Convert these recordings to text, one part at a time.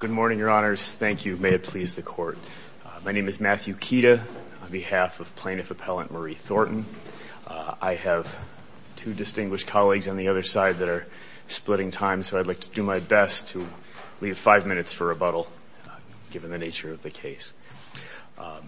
Good morning, your honors. Thank you. May it please the court. My name is Matthew Kida on behalf of plaintiff appellant Marie Thornton. I have two distinguished colleagues on the other side that are splitting time, so I'd like to do my best to leave five minutes for rebuttal given the nature of the case. I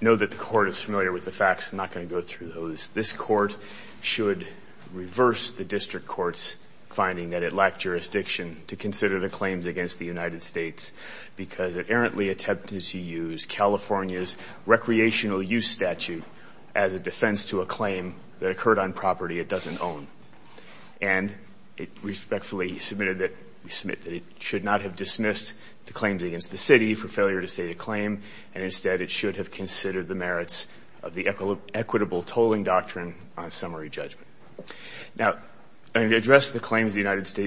know that the court is familiar with the facts. I'm not going to go through those. This court should reverse the district court's finding that it lacked jurisdiction to consider the claims against the United States because it errantly attempted to use California's recreational use statute as a defense to a claim that occurred on property it doesn't own. And it respectfully submitted that it should not have dismissed the claims against the city for failure to state a claim, and instead it should have considered the merits of the equitable tolling doctrine on summary judgment. Now, I'm going to address the claims against the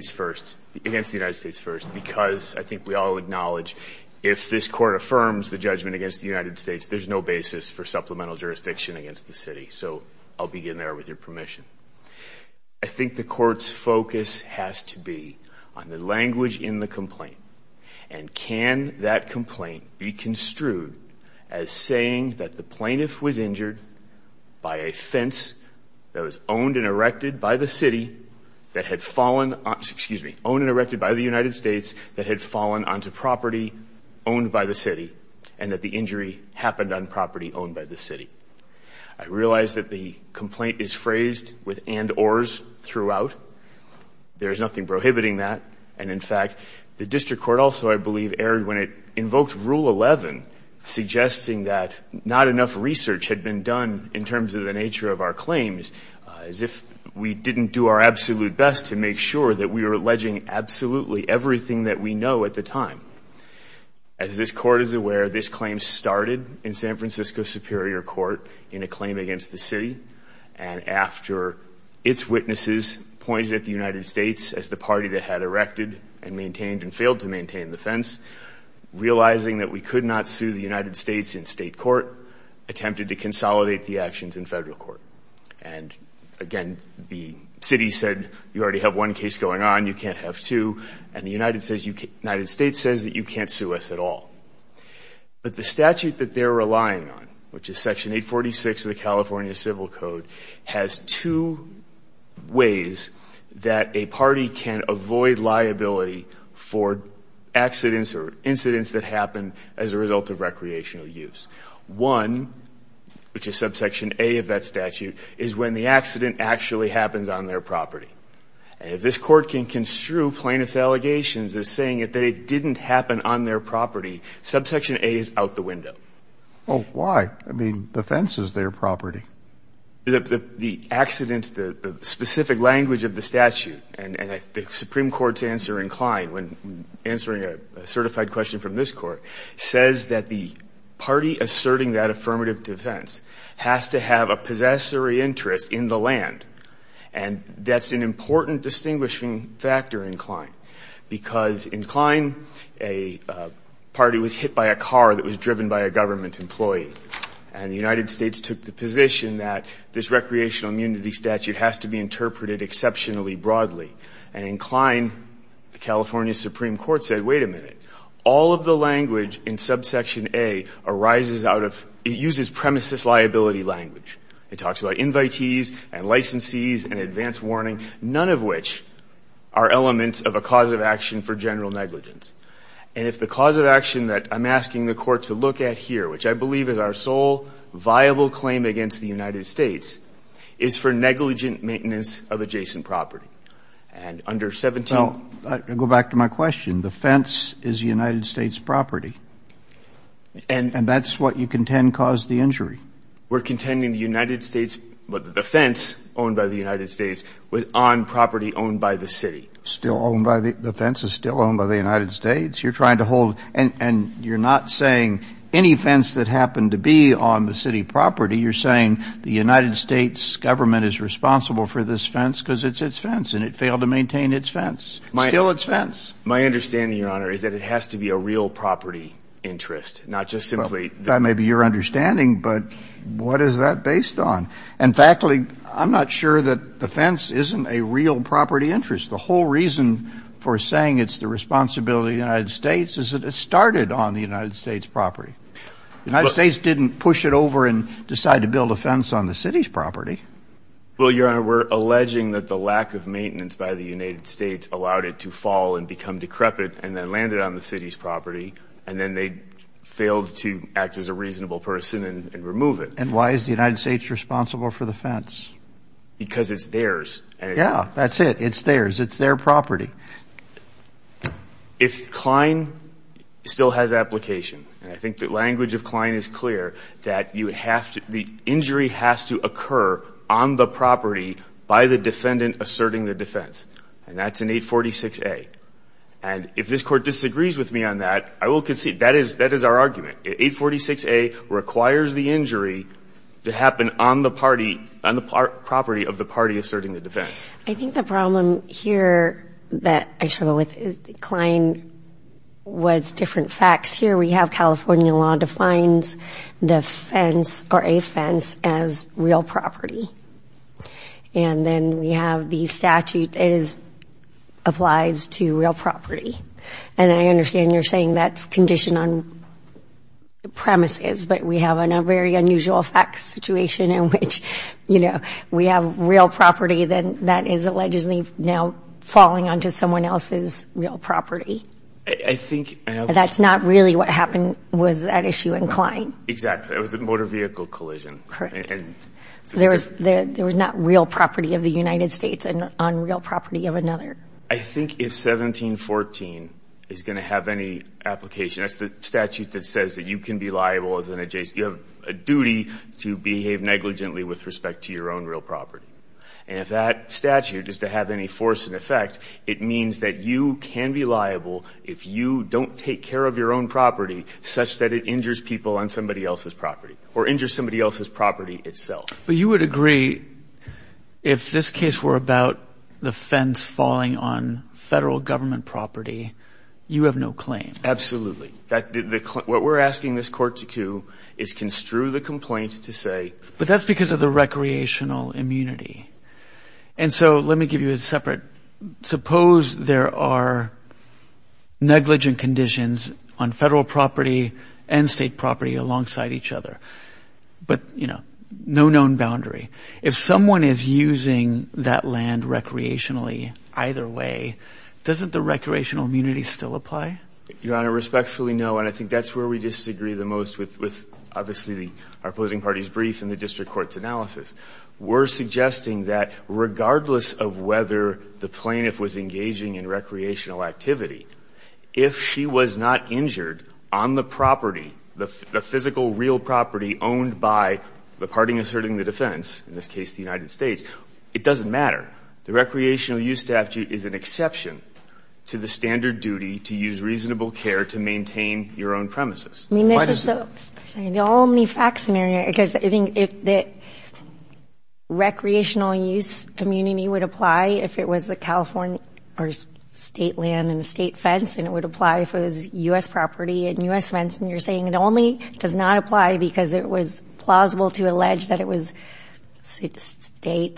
United States first because I think we all acknowledge if this court affirms the judgment against the United States, there's no basis for supplemental jurisdiction against the city. So I'll begin there with your permission. I think the court's focus has to be on the language in the complaint, and can that complaint be construed as saying that the plaintiff was injured by a fence that was owned and erected by the city that had fallen on, excuse me, owned and erected by the United States that had fallen onto property owned by the city, and that the injury happened on property owned by the city. I realize that the complaint is phrased with and ors throughout. There's nothing prohibiting that. And in fact, the district court also, I believe, erred when it invoked Rule 11, suggesting that not enough research had been done in terms of the nature of our claims as if we didn't do our absolute best to make sure that we were alleging absolutely everything that we know at the time. As this court is aware, this claim started in San Francisco Superior Court in a claim against the city, and after its witnesses pointed at the United States as the party that had erected and maintained and failed to maintain the fence, realizing that we could not sue the United States in state court, attempted to consolidate the actions in federal court. And again, the city said you already have one case going on, you can't have two, and the United States says that you can't sue us at all. But the statute that they're relying on, which is Section accidents or incidents that happen as a result of recreational use. One, which is subsection A of that statute, is when the accident actually happens on their property. And if this court can construe plaintiff's allegations as saying that it didn't happen on their property, subsection A is out the window. Well, why? I mean, the fence is their property. The accident, the specific language of the statute, and the Supreme Court's answer in Klein, when answering a certified question from this court, says that the party asserting that affirmative defense has to have a possessory interest in the land. And that's an important distinguishing factor in Klein, because in Klein, a party was hit by a car that was driven by a government employee. And the United States took the position that this recreational immunity statute has to be interpreted exceptionally broadly. And in Klein, the California Supreme Court said, wait a minute, all of the language in subsection A arises out of ‑‑ it uses premises liability language. It talks about invitees and licensees and advance warning, none of which are elements of a cause of action for general negligence. And if the cause of action that I'm asking the court to look at here, which I believe is our sole viable claim against the United States, is for negligent maintenance of adjacent property. And under 17 ‑‑ Well, go back to my question. The fence is United States property. And ‑‑ And that's what you contend caused the injury. We're contending the United States ‑‑ the fence owned by the United States was on property owned by the city. Still owned by the ‑‑ the fence is still owned by the United States? You're trying to hold ‑‑ and you're not saying any fence that happened to be on the city property, you're saying the United States government is responsible for this fence because it's its fence and it failed to maintain its fence. Still its fence. My understanding, Your Honor, is that it has to be a real property interest, not just simply ‑‑ That may be your understanding, but what is that based on? And factually, I'm not sure that the fence isn't a real property interest. The whole reason for saying it's the responsibility of the United States is that it started on the United States property. The United States didn't push it over and decide to build a fence on the city's property. Well, Your Honor, we're alleging that the lack of maintenance by the United States allowed it to fall and become decrepit and then land it on the city's property, and then they failed to act as a reasonable person and remove it. And why is the United States responsible for the fence? Because it's theirs. Yeah, that's it. It's theirs. It's their property. If Klein still has application, and I think the language of Klein is clear, that you have to ‑‑ the injury has to occur on the property by the defendant asserting the defense, and that's in 846A. And if this Court disagrees with me on that, I will concede that is our argument. 846A requires the injury to happen on the property of the party asserting the defense. I think the problem here that I struggle with is Klein was different facts. Here we have California law defines the fence or a fence as real property. And then we have the statute that applies to real property. And I understand you're saying that's conditioned on the premises, but we have a very unusual facts situation in which, you know, we have real property that is allegedly now falling onto someone else's real property. I think ‑‑ And that's not really what happened with that issue in Klein. Exactly. It was a motor vehicle collision. Correct. And ‑‑ So there was not real property of the United States on real property of another. I think if 1714 is going to have any application, that's the statute that says that you can be liable as an ‑‑ you have a duty to behave negligently with respect to your own real property. And if that statute is to have any force in effect, it means that you can be liable if you don't take care of your own property such that it injures people on somebody else's property or injures somebody else's property itself. But you would agree if this case were about the fence falling on Federal Government property, you have no claim? Absolutely. What we're asking this court to do is construe the complaint to say ‑‑ But that's because of the recreational immunity. And so let me give you a separate ‑‑ suppose there are negligent conditions on Federal property and State property alongside each other, but, you know, no known boundary. If someone is using that land recreationally either way, doesn't the recreational immunity still apply? Your Honor, respectfully, no. And I think that's where we disagree the most with obviously our opposing party's brief and the district court's analysis. We're suggesting that regardless of whether the plaintiff was engaging in recreational activity, if she was not injured on the property, the physical real property owned by the party asserting the defense, in this case the United States, it doesn't matter. The recreational use statute is an exception to the standard duty to use reasonable care to maintain your own premises. I mean, this is the only fact scenario, because I think if the recreational use immunity would apply if it was the California or State land and State fence and it would apply if it was U.S. property and U.S. fence, and you're saying it only does not apply because it was plausible to allege that it was State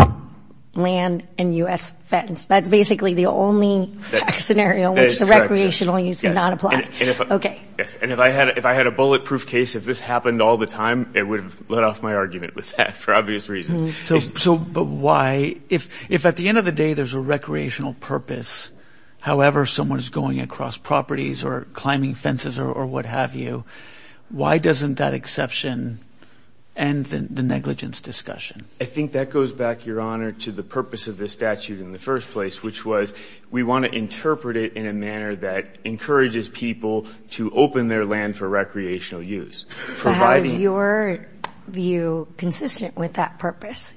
land and U.S. fence, that's basically the only fact scenario which the recreational use would not apply. Yes. And if I had a bulletproof case, if this happened all the time, it would have let off my argument with that for obvious reasons. So why, if at the end of the day there's a recreational purpose, however someone is going across properties or climbing fences or what have you, why doesn't that exception end the negligence discussion? I think that goes back, Your Honor, to the purpose of this statute in the first place, which was we want to interpret it in a manner that encourages people to open their land for recreational use. So how is your view consistent with that purpose?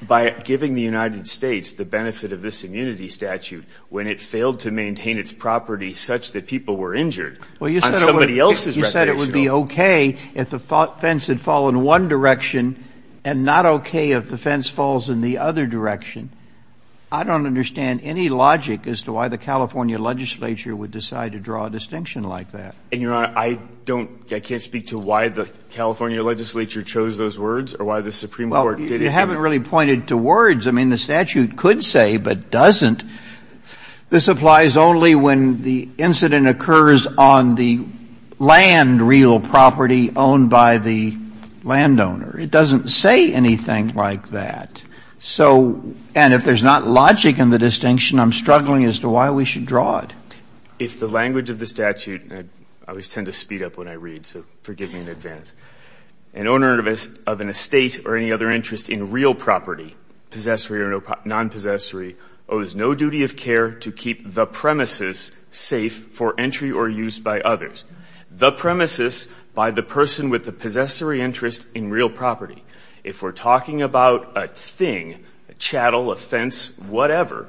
By giving the United States the benefit of this immunity statute when it failed to maintain its property such that people were injured on somebody else's recreational purpose. Well, you said it would be okay if the fence had fallen one direction and not okay if the fence falls in the other direction. I don't understand any logic as to why the California legislature would decide to draw a distinction like that. And, Your Honor, I don't, I can't speak to why the California legislature chose those words or why the Supreme Court did it. Well, you haven't really pointed to words. I mean, the statute could say, but doesn't. This applies only when the incident occurs on the land, real property, owned by the landowner. It doesn't say anything like that. So, and if there's not logic in the distinction, I'm struggling as to why we should draw it. If the language of the statute, and I always tend to speed up when I read, so forgive me in advance. An owner of an estate or any other interest in real property, possessory or nonpossessory, owes no duty of care to keep the premises safe for entry or use by others. The premises, by the person with the possessory interest in real property. If we're talking about a thing, a chattel, a fence, whatever,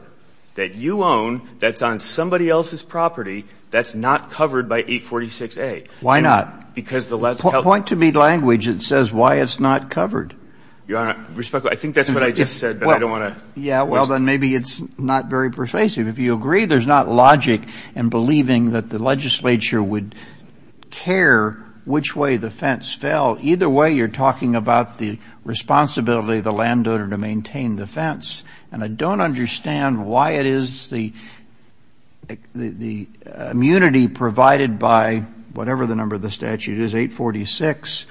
that you own that's on somebody else's property, that's not covered by 846A. Why not? Because the law is held. Point to me language that says why it's not covered. Your Honor, respectfully, I think that's what I just said, but I don't want to. Yeah, well, then maybe it's not very persuasive. If you agree there's not logic in believing that the legislature would care which way the fence fell, either way you're talking about the responsibility of the landowner to maintain the fence. And I don't understand why it is the immunity provided by whatever the number of the statute is, 846,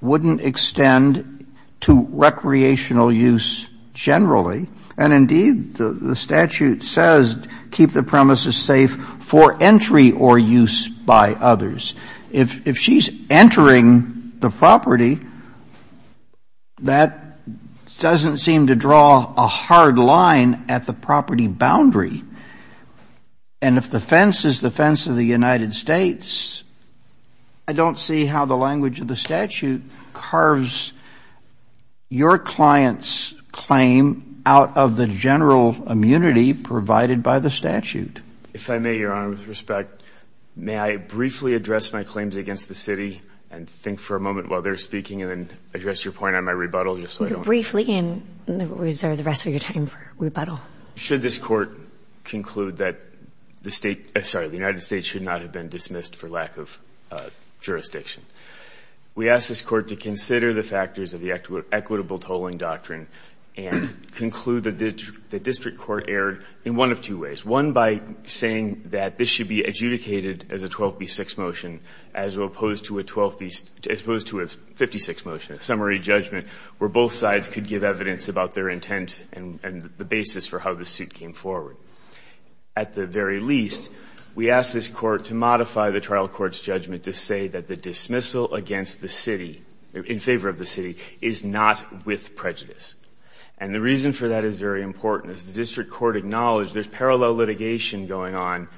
wouldn't extend to recreational use generally. And, indeed, the statute says keep the premises safe for entry or use by others. If she's entering the property, that doesn't seem to draw a hard line at the property boundary. And if the fence is the fence of the United States, I don't see how the language of the statute carves your client's claim out of the general immunity provided by the statute. If I may, Your Honor, with respect, may I briefly address my claims against the city and think for a moment while they're speaking and then address your point on my rebuttal just so I don't— Briefly and reserve the rest of your time for rebuttal. Should this court conclude that the United States should not have been dismissed for lack of jurisdiction, we ask this court to consider the factors of the equitable tolling doctrine and conclude that the district court erred in one of two ways. One, by saying that this should be adjudicated as a 12B6 motion as opposed to a 56 motion, a summary judgment where both sides could give evidence about their intent and the basis for how the suit came forward. At the very least, we ask this court to modify the trial court's judgment to say that the dismissal against the city, in favor of the city, is not with prejudice. And the reason for that is very important. As the district court acknowledged, there's parallel litigation going on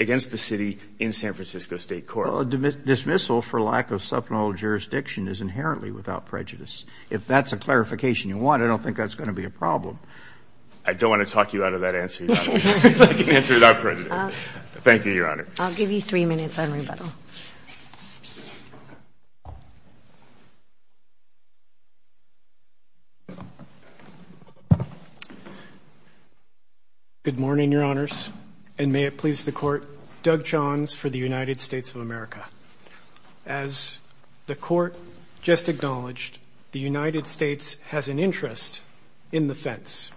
against the city in San Francisco State Court. Well, a dismissal for lack of supplemental jurisdiction is inherently without prejudice. If that's a clarification you want, I don't think that's going to be a problem. I don't want to talk you out of that answer, Your Honor. I can answer without prejudice. Thank you, Your Honor. I'll give you three minutes on rebuttal. Good morning, Your Honors, and may it please the Court. Doug Johns for the United States of America. As the Court just acknowledged, the United States has an interest in the fence.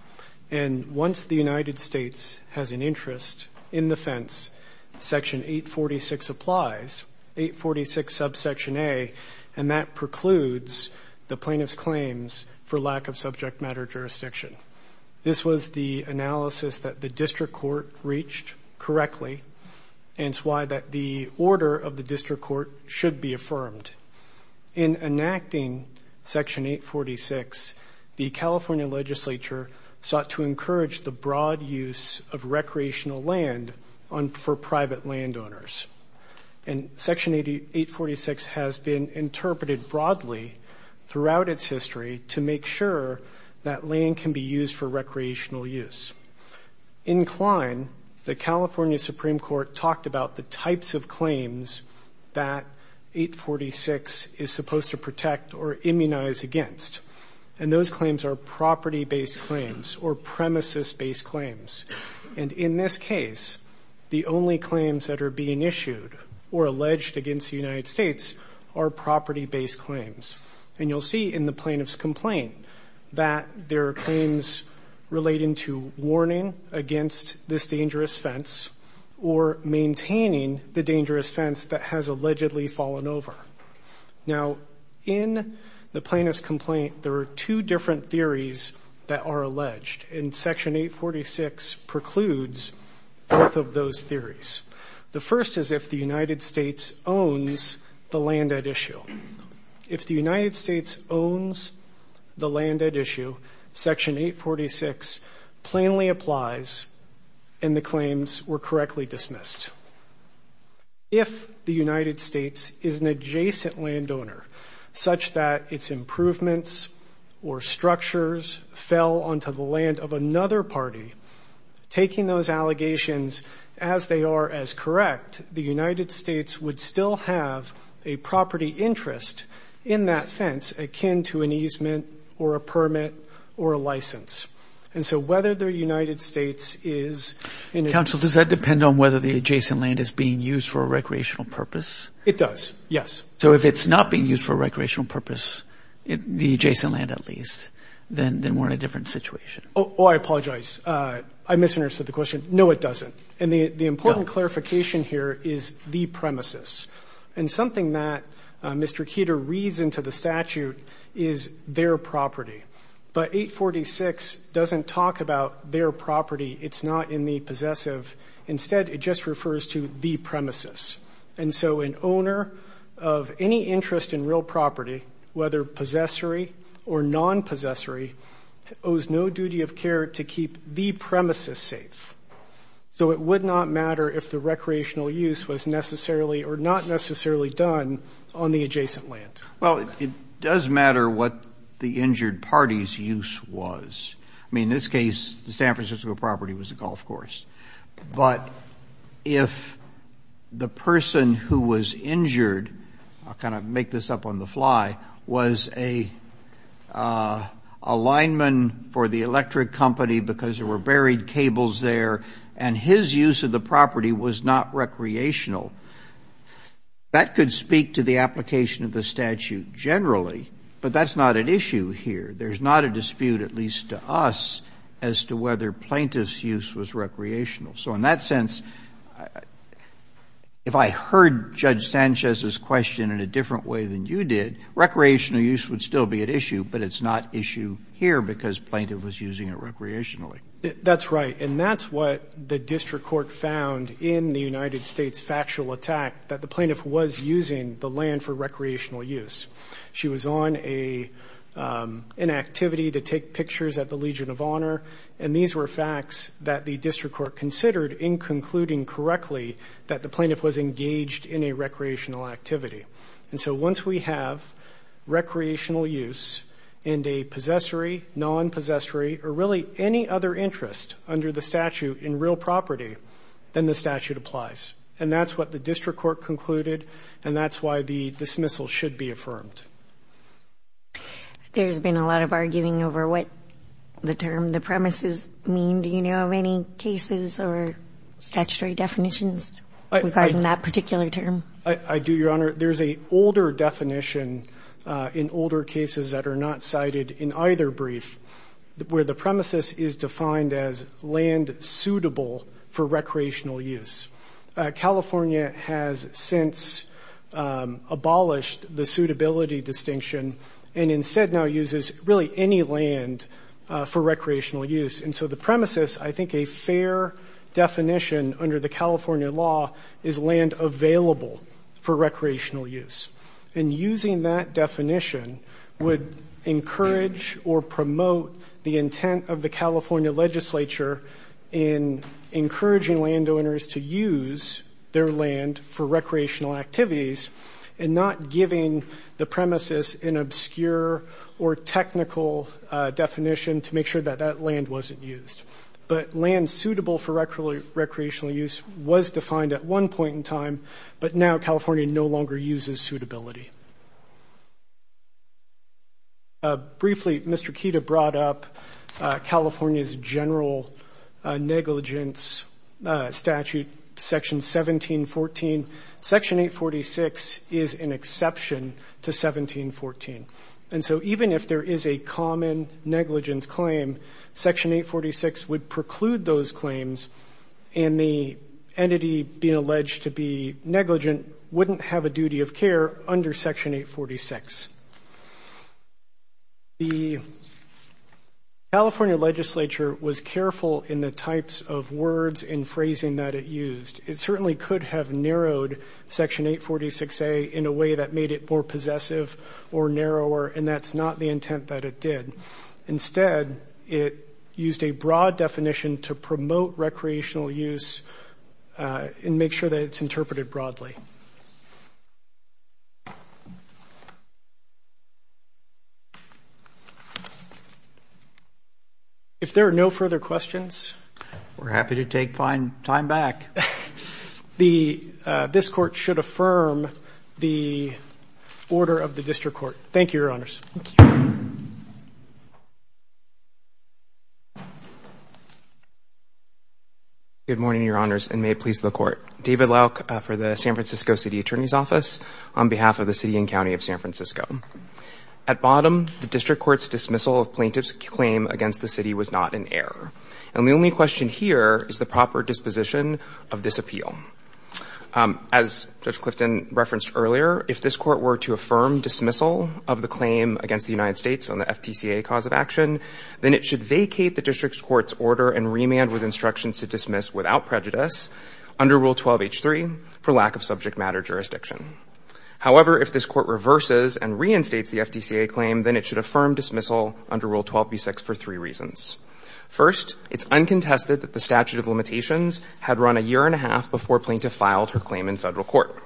And once the United States has an interest in the fence, Section 846 applies, 846 subsection A, and that precludes the plaintiff's claims for lack of subject matter jurisdiction. This was the analysis that the district court reached correctly, and it's why the order of the district court should be affirmed. In enacting Section 846, the California legislature sought to encourage the broad use of recreational land for private landowners. And Section 846 has been interpreted broadly throughout its history to make sure that land can be used for recreational use. In Klein, the California Supreme Court talked about the types of claims that 846 is supposed to protect or immunize against. And those claims are property-based claims or premises-based claims. And in this case, the only claims that are being issued or alleged against the United States are property-based claims. And you'll see in the plaintiff's complaint that there are claims relating to warning against this dangerous fence or maintaining the dangerous fence that has allegedly fallen over. Now, in the plaintiff's complaint, there are two different theories that are alleged, and Section 846 precludes both of those theories. The first is if the United States owns the land at issue. If the United States owns the land at issue, Section 846 plainly applies and the claims were correctly dismissed. If the United States is an adjacent landowner, such that its improvements or structures fell onto the land of another party, taking those allegations as they in that fence akin to an easement or a permit or a license. And so whether the United States is in a... Counsel, does that depend on whether the adjacent land is being used for a recreational purpose? It does, yes. So if it's not being used for a recreational purpose, the adjacent land at least, then we're in a different situation. Oh, I apologize. I misunderstood the question. No, it doesn't. And the important clarification here is the premises. And something that Mr. Keeter reads into the statute is their property. But 846 doesn't talk about their property. It's not in the possessive. Instead, it just refers to the premises. And so an owner of any interest in real property, whether possessory or non-possessory, owes no duty of care to keep the premises safe. So it would not matter if the recreational use was necessarily or not necessarily done on the adjacent land. Well, it does matter what the injured party's use was. I mean, in this case, the San Francisco property was a golf course. But if the person who was injured, I'll kind of make this up on the fly, was a lineman for the electric company because there were buried cables there and his use of the property was not recreational, that could speak to the application of the statute generally. But that's not an issue here. There's not a dispute, at least to us, as to whether plaintiff's use was recreational. So in that sense, if I heard Judge Sanchez's question in a different way than you did, recreational use would still be at issue, but it's not issue here because plaintiff was using it recreationally. That's right. And that's what the district court found in the United States factual attack, that the plaintiff was using the land for recreational use. She was on an activity to take pictures at the Legion of Honor. And these were facts that the district court considered in concluding correctly that the plaintiff was engaged in a recreational activity. And so once we have recreational use and a possessory, non-possessory or really any other interest under the statute in real property, then the statute applies. And that's what the district court concluded and that's why the dismissal should be affirmed. There's been a lot of arguing over what the term, the premises, mean. Do you know of any cases or statutory definitions regarding that particular term? I do, Your Honor. There's an older definition in older cases that are not cited in either brief where the premises is defined as land suitable for recreational use. California has since abolished the suitability distinction and instead now uses really any land for recreational use. And so the premises, I think a fair definition under the California law is land available for recreational use. And using that definition would encourage or promote the intent of the California legislature in encouraging landowners to use their land for recreational activities and not giving the premises an obscure or technical definition to make sure that that land wasn't used. But land suitable for recreational use was defined at one point in time, but now California no longer uses suitability. Briefly, Mr. Kida brought up California's general negligence statute, Section 1714. Section 846 is an exception to 1714. And so even if there is a common negligence claim, Section 846 would preclude those claims and the entity being alleged to be negligent wouldn't have a duty of care under Section 846. The California legislature was careful in the types of words and phrasing that it used. It certainly could have narrowed Section 846A in a way that made it more narrower, and that's not the intent that it did. Instead, it used a broad definition to promote recreational use and make sure that it's interpreted broadly. If there are no further questions. We're happy to take time back. This Court should affirm the order of the District Court. Thank you, Your Honors. Good morning, Your Honors, and may it please the Court. David Lauk for the San Francisco City Attorney's Office on behalf of the city and county of San Francisco. At bottom, the District Court's dismissal of plaintiff's claim against the city was not in error. And the only question here is the proper disposition of this appeal. As Judge Clifton referenced earlier, if this Court were to affirm dismissal of the claim against the United States on the FTCA cause of action, then it should vacate the District Court's order and remand with instructions to dismiss without prejudice under Rule 12H3 for lack of subject matter jurisdiction. However, if this Court reverses and reinstates the FTCA claim, then it should affirm dismissal under Rule 12B6 for three reasons. First, it's uncontested that the statute of limitations had run a year and a half before plaintiff filed her claim in federal court.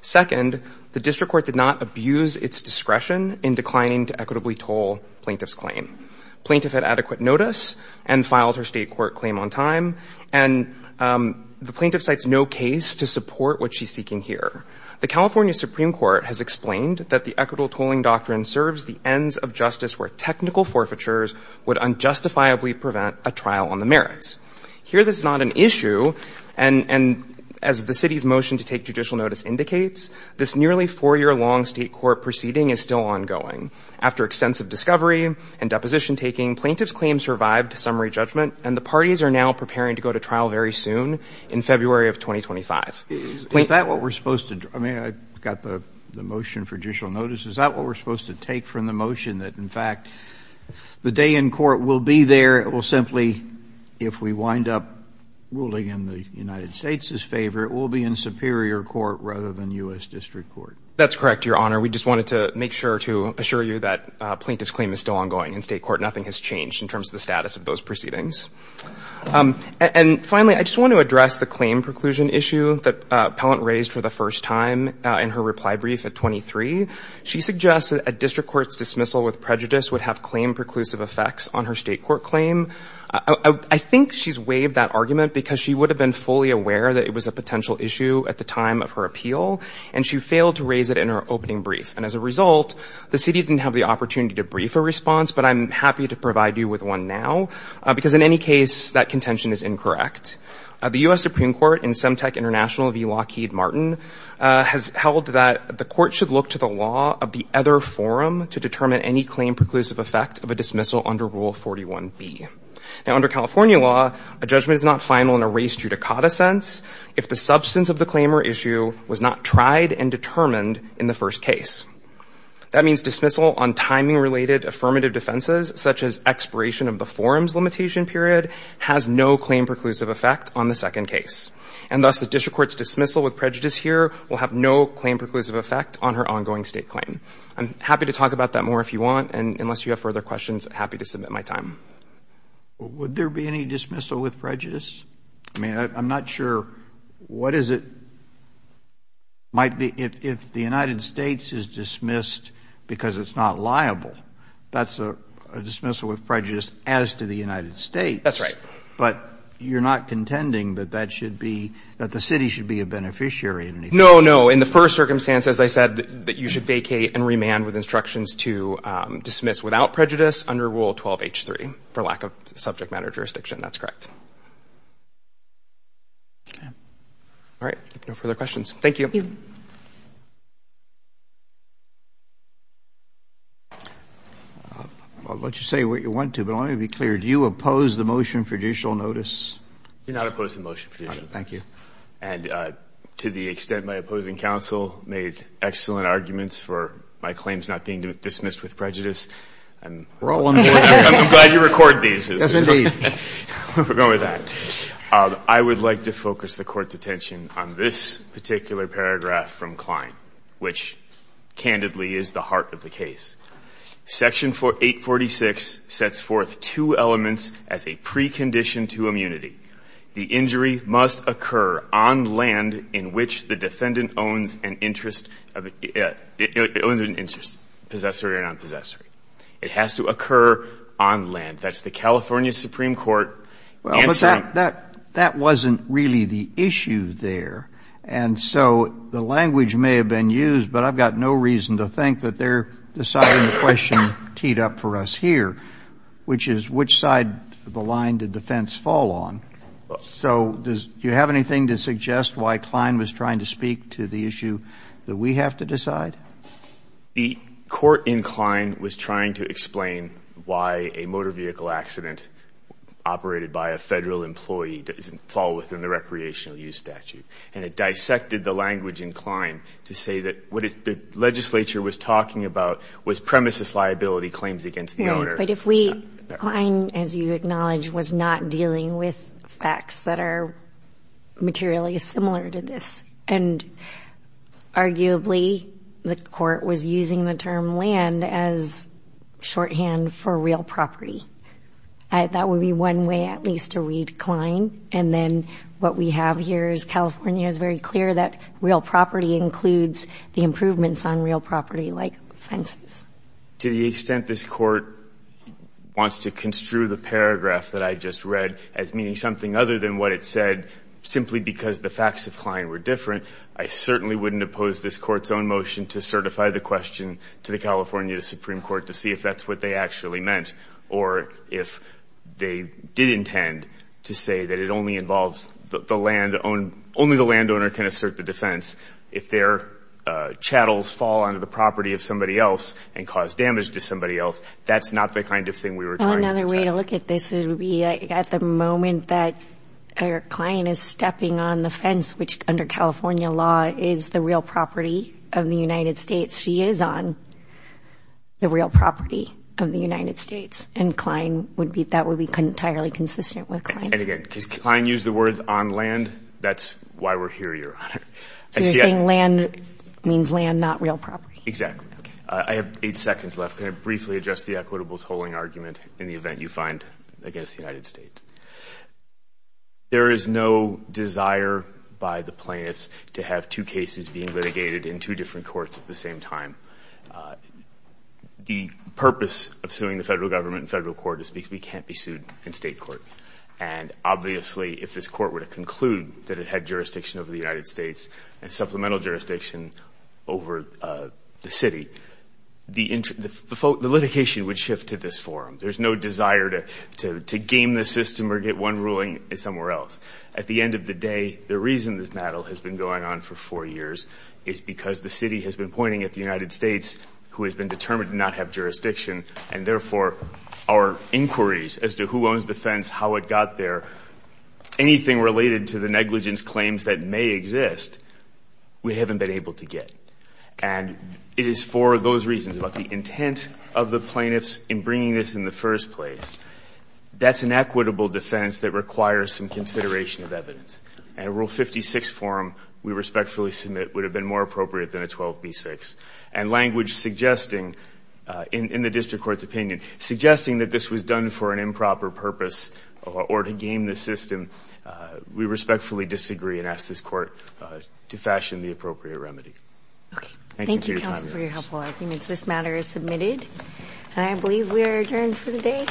Second, the District Court did not abuse its discretion in declining to equitably toll plaintiff's claim. Plaintiff had adequate notice and filed her state court claim on time, and the plaintiff cites no case to support what she's seeking here. The California Supreme Court has explained that the equitable tolling doctrine serves the ends of justice where technical forfeitures would unjustifiably prevent a trial on the merits. Here, this is not an issue, and as the city's motion to take judicial notice indicates, this nearly four-year-long state court proceeding is still ongoing. After extensive discovery and deposition-taking, plaintiff's claim survived summary judgment, and the parties are now preparing to go to trial very soon, in February of 2025. Is that what we're supposed to do? I mean, I've got the motion for judicial notice. Is that what we're supposed to take from the motion, that in fact the day in court we'll be there, it will simply, if we wind up ruling in the United States' favor, it will be in superior court rather than U.S. District Court? That's correct, Your Honor. We just wanted to make sure to assure you that plaintiff's claim is still ongoing in state court. Nothing has changed in terms of the status of those proceedings. And finally, I just want to address the claim preclusion issue that Appellant raised for the first time in her reply brief at 23. She suggested that a district court's dismissal with prejudice would have claim-preclusive effects on her state court claim. I think she's waived that argument because she would have been fully aware that it was a potential issue at the time of her appeal, and she failed to raise it in her opening brief. And as a result, the city didn't have the opportunity to brief a response, but I'm happy to provide you with one now, because in any case that contention is incorrect. The U.S. Supreme Court and Semtec International v. Lockheed Martin has held that the court should look to the law of the other forum to determine any claim-preclusive effect of a dismissal under Rule 41B. Now, under California law, a judgment is not final in a race judicata sense if the substance of the claim or issue was not tried and determined in the first case. That means dismissal on timing-related affirmative defenses, such as expiration of the forum's limitation period, has no claim-preclusive effect on the second case. And thus, the district court's dismissal with prejudice here will have no claim-preclusive effect on her ongoing state claim. I'm happy to talk about that more if you want, and unless you have further questions, happy to submit my time. Would there be any dismissal with prejudice? I mean, I'm not sure what is it might be if the United States is dismissed because it's not liable. That's a dismissal with prejudice as to the United States. That's right. But you're not contending that that should be – that the city should be a beneficiary in any case? No, no. In the first circumstance, as I said, that you should vacate and remand with instructions to dismiss without prejudice under Rule 12H3 for lack of subject matter jurisdiction. That's correct. Okay. All right. No further questions. Thank you. Thank you. I'll let you say what you want to, but let me be clear. Do you oppose the motion for judicial notice? Do not oppose the motion for judicial notice. And to the extent my opposing counsel made excellent arguments for my claims not being dismissed with prejudice, I'm glad you record these. Yes, indeed. We'll go with that. I would like to focus the Court's attention on this particular paragraph from Klein, which, candidly, is the heart of the case. Section 846 sets forth two elements as a precondition to immunity. The injury must occur on land in which the defendant owns an interest of – owns an interest, possessory or nonpossessory. It has to occur on land. That's the California Supreme Court answer. Well, but that wasn't really the issue there. And so the language may have been used, but I've got no reason to think that they're deciding the question teed up for us here, which is which side of the line did the fence fall on. So do you have anything to suggest why Klein was trying to speak to the issue that we have to decide? The court in Klein was trying to explain why a motor vehicle accident operated by a Federal employee doesn't fall within the recreational use statute. And it dissected the language in Klein to say that what the legislature was talking about was premises liability claims against the owner. But if we – Klein, as you acknowledge, was not dealing with facts that are materially similar to this. And arguably the court was using the term land as shorthand for real property. That would be one way at least to read Klein. And then what we have here is California is very clear that real property includes the improvements on real property like fences. To the extent this court wants to construe the paragraph that I just read as meaning something other than what it said, simply because the facts of Klein were different, I certainly wouldn't oppose this court's own motion to certify the question to the California Supreme Court to see if that's what they actually meant or if they did intend to say that it only involves the land – only the landowner can assert the defense if their chattels fall onto the property of somebody else and cause damage to somebody else. That's not the kind of thing we were trying to attack. Another way to look at this would be at the moment that our client is stepping on the fence, which under California law is the real property of the United States. She is on the real property of the United States. And Klein would be – that would be entirely consistent with Klein. And, again, because Klein used the words on land, that's why we're here, Your Honor. So you're saying land means land, not real property? Exactly. I have eight seconds left. Can I briefly address the equitable tolling argument in the event you find, I guess, the United States? There is no desire by the plaintiffs to have two cases being litigated in two different courts at the same time. The purpose of suing the federal government in federal court is because we can't be sued in state court. And, obviously, if this court were to conclude that it had jurisdiction over the United States and supplemental jurisdiction over the city, the litigation would shift to this forum. There's no desire to game the system or get one ruling somewhere else. At the end of the day, the reason this battle has been going on for four years is because the city has been pointing at the United States, who has been determined to not have jurisdiction, and, therefore, our inquiries as to who owns the fence, how it got there, anything related to the negligence claims that may exist, we haven't been able to get. And it is for those reasons, about the intent of the plaintiffs in bringing this in the first place. That's an equitable defense that requires some consideration of evidence. And a Rule 56 forum, we respectfully submit, would have been more appropriate than a 12b-6. And language suggesting, in the district court's opinion, suggesting that this was done for an improper purpose or to game the system, we respectfully disagree and ask this court to fashion the appropriate remedy. Thank you for your time. Thank you, counsel, for your helpful arguments. This matter is submitted. And I believe we are adjourned for the day, for the week.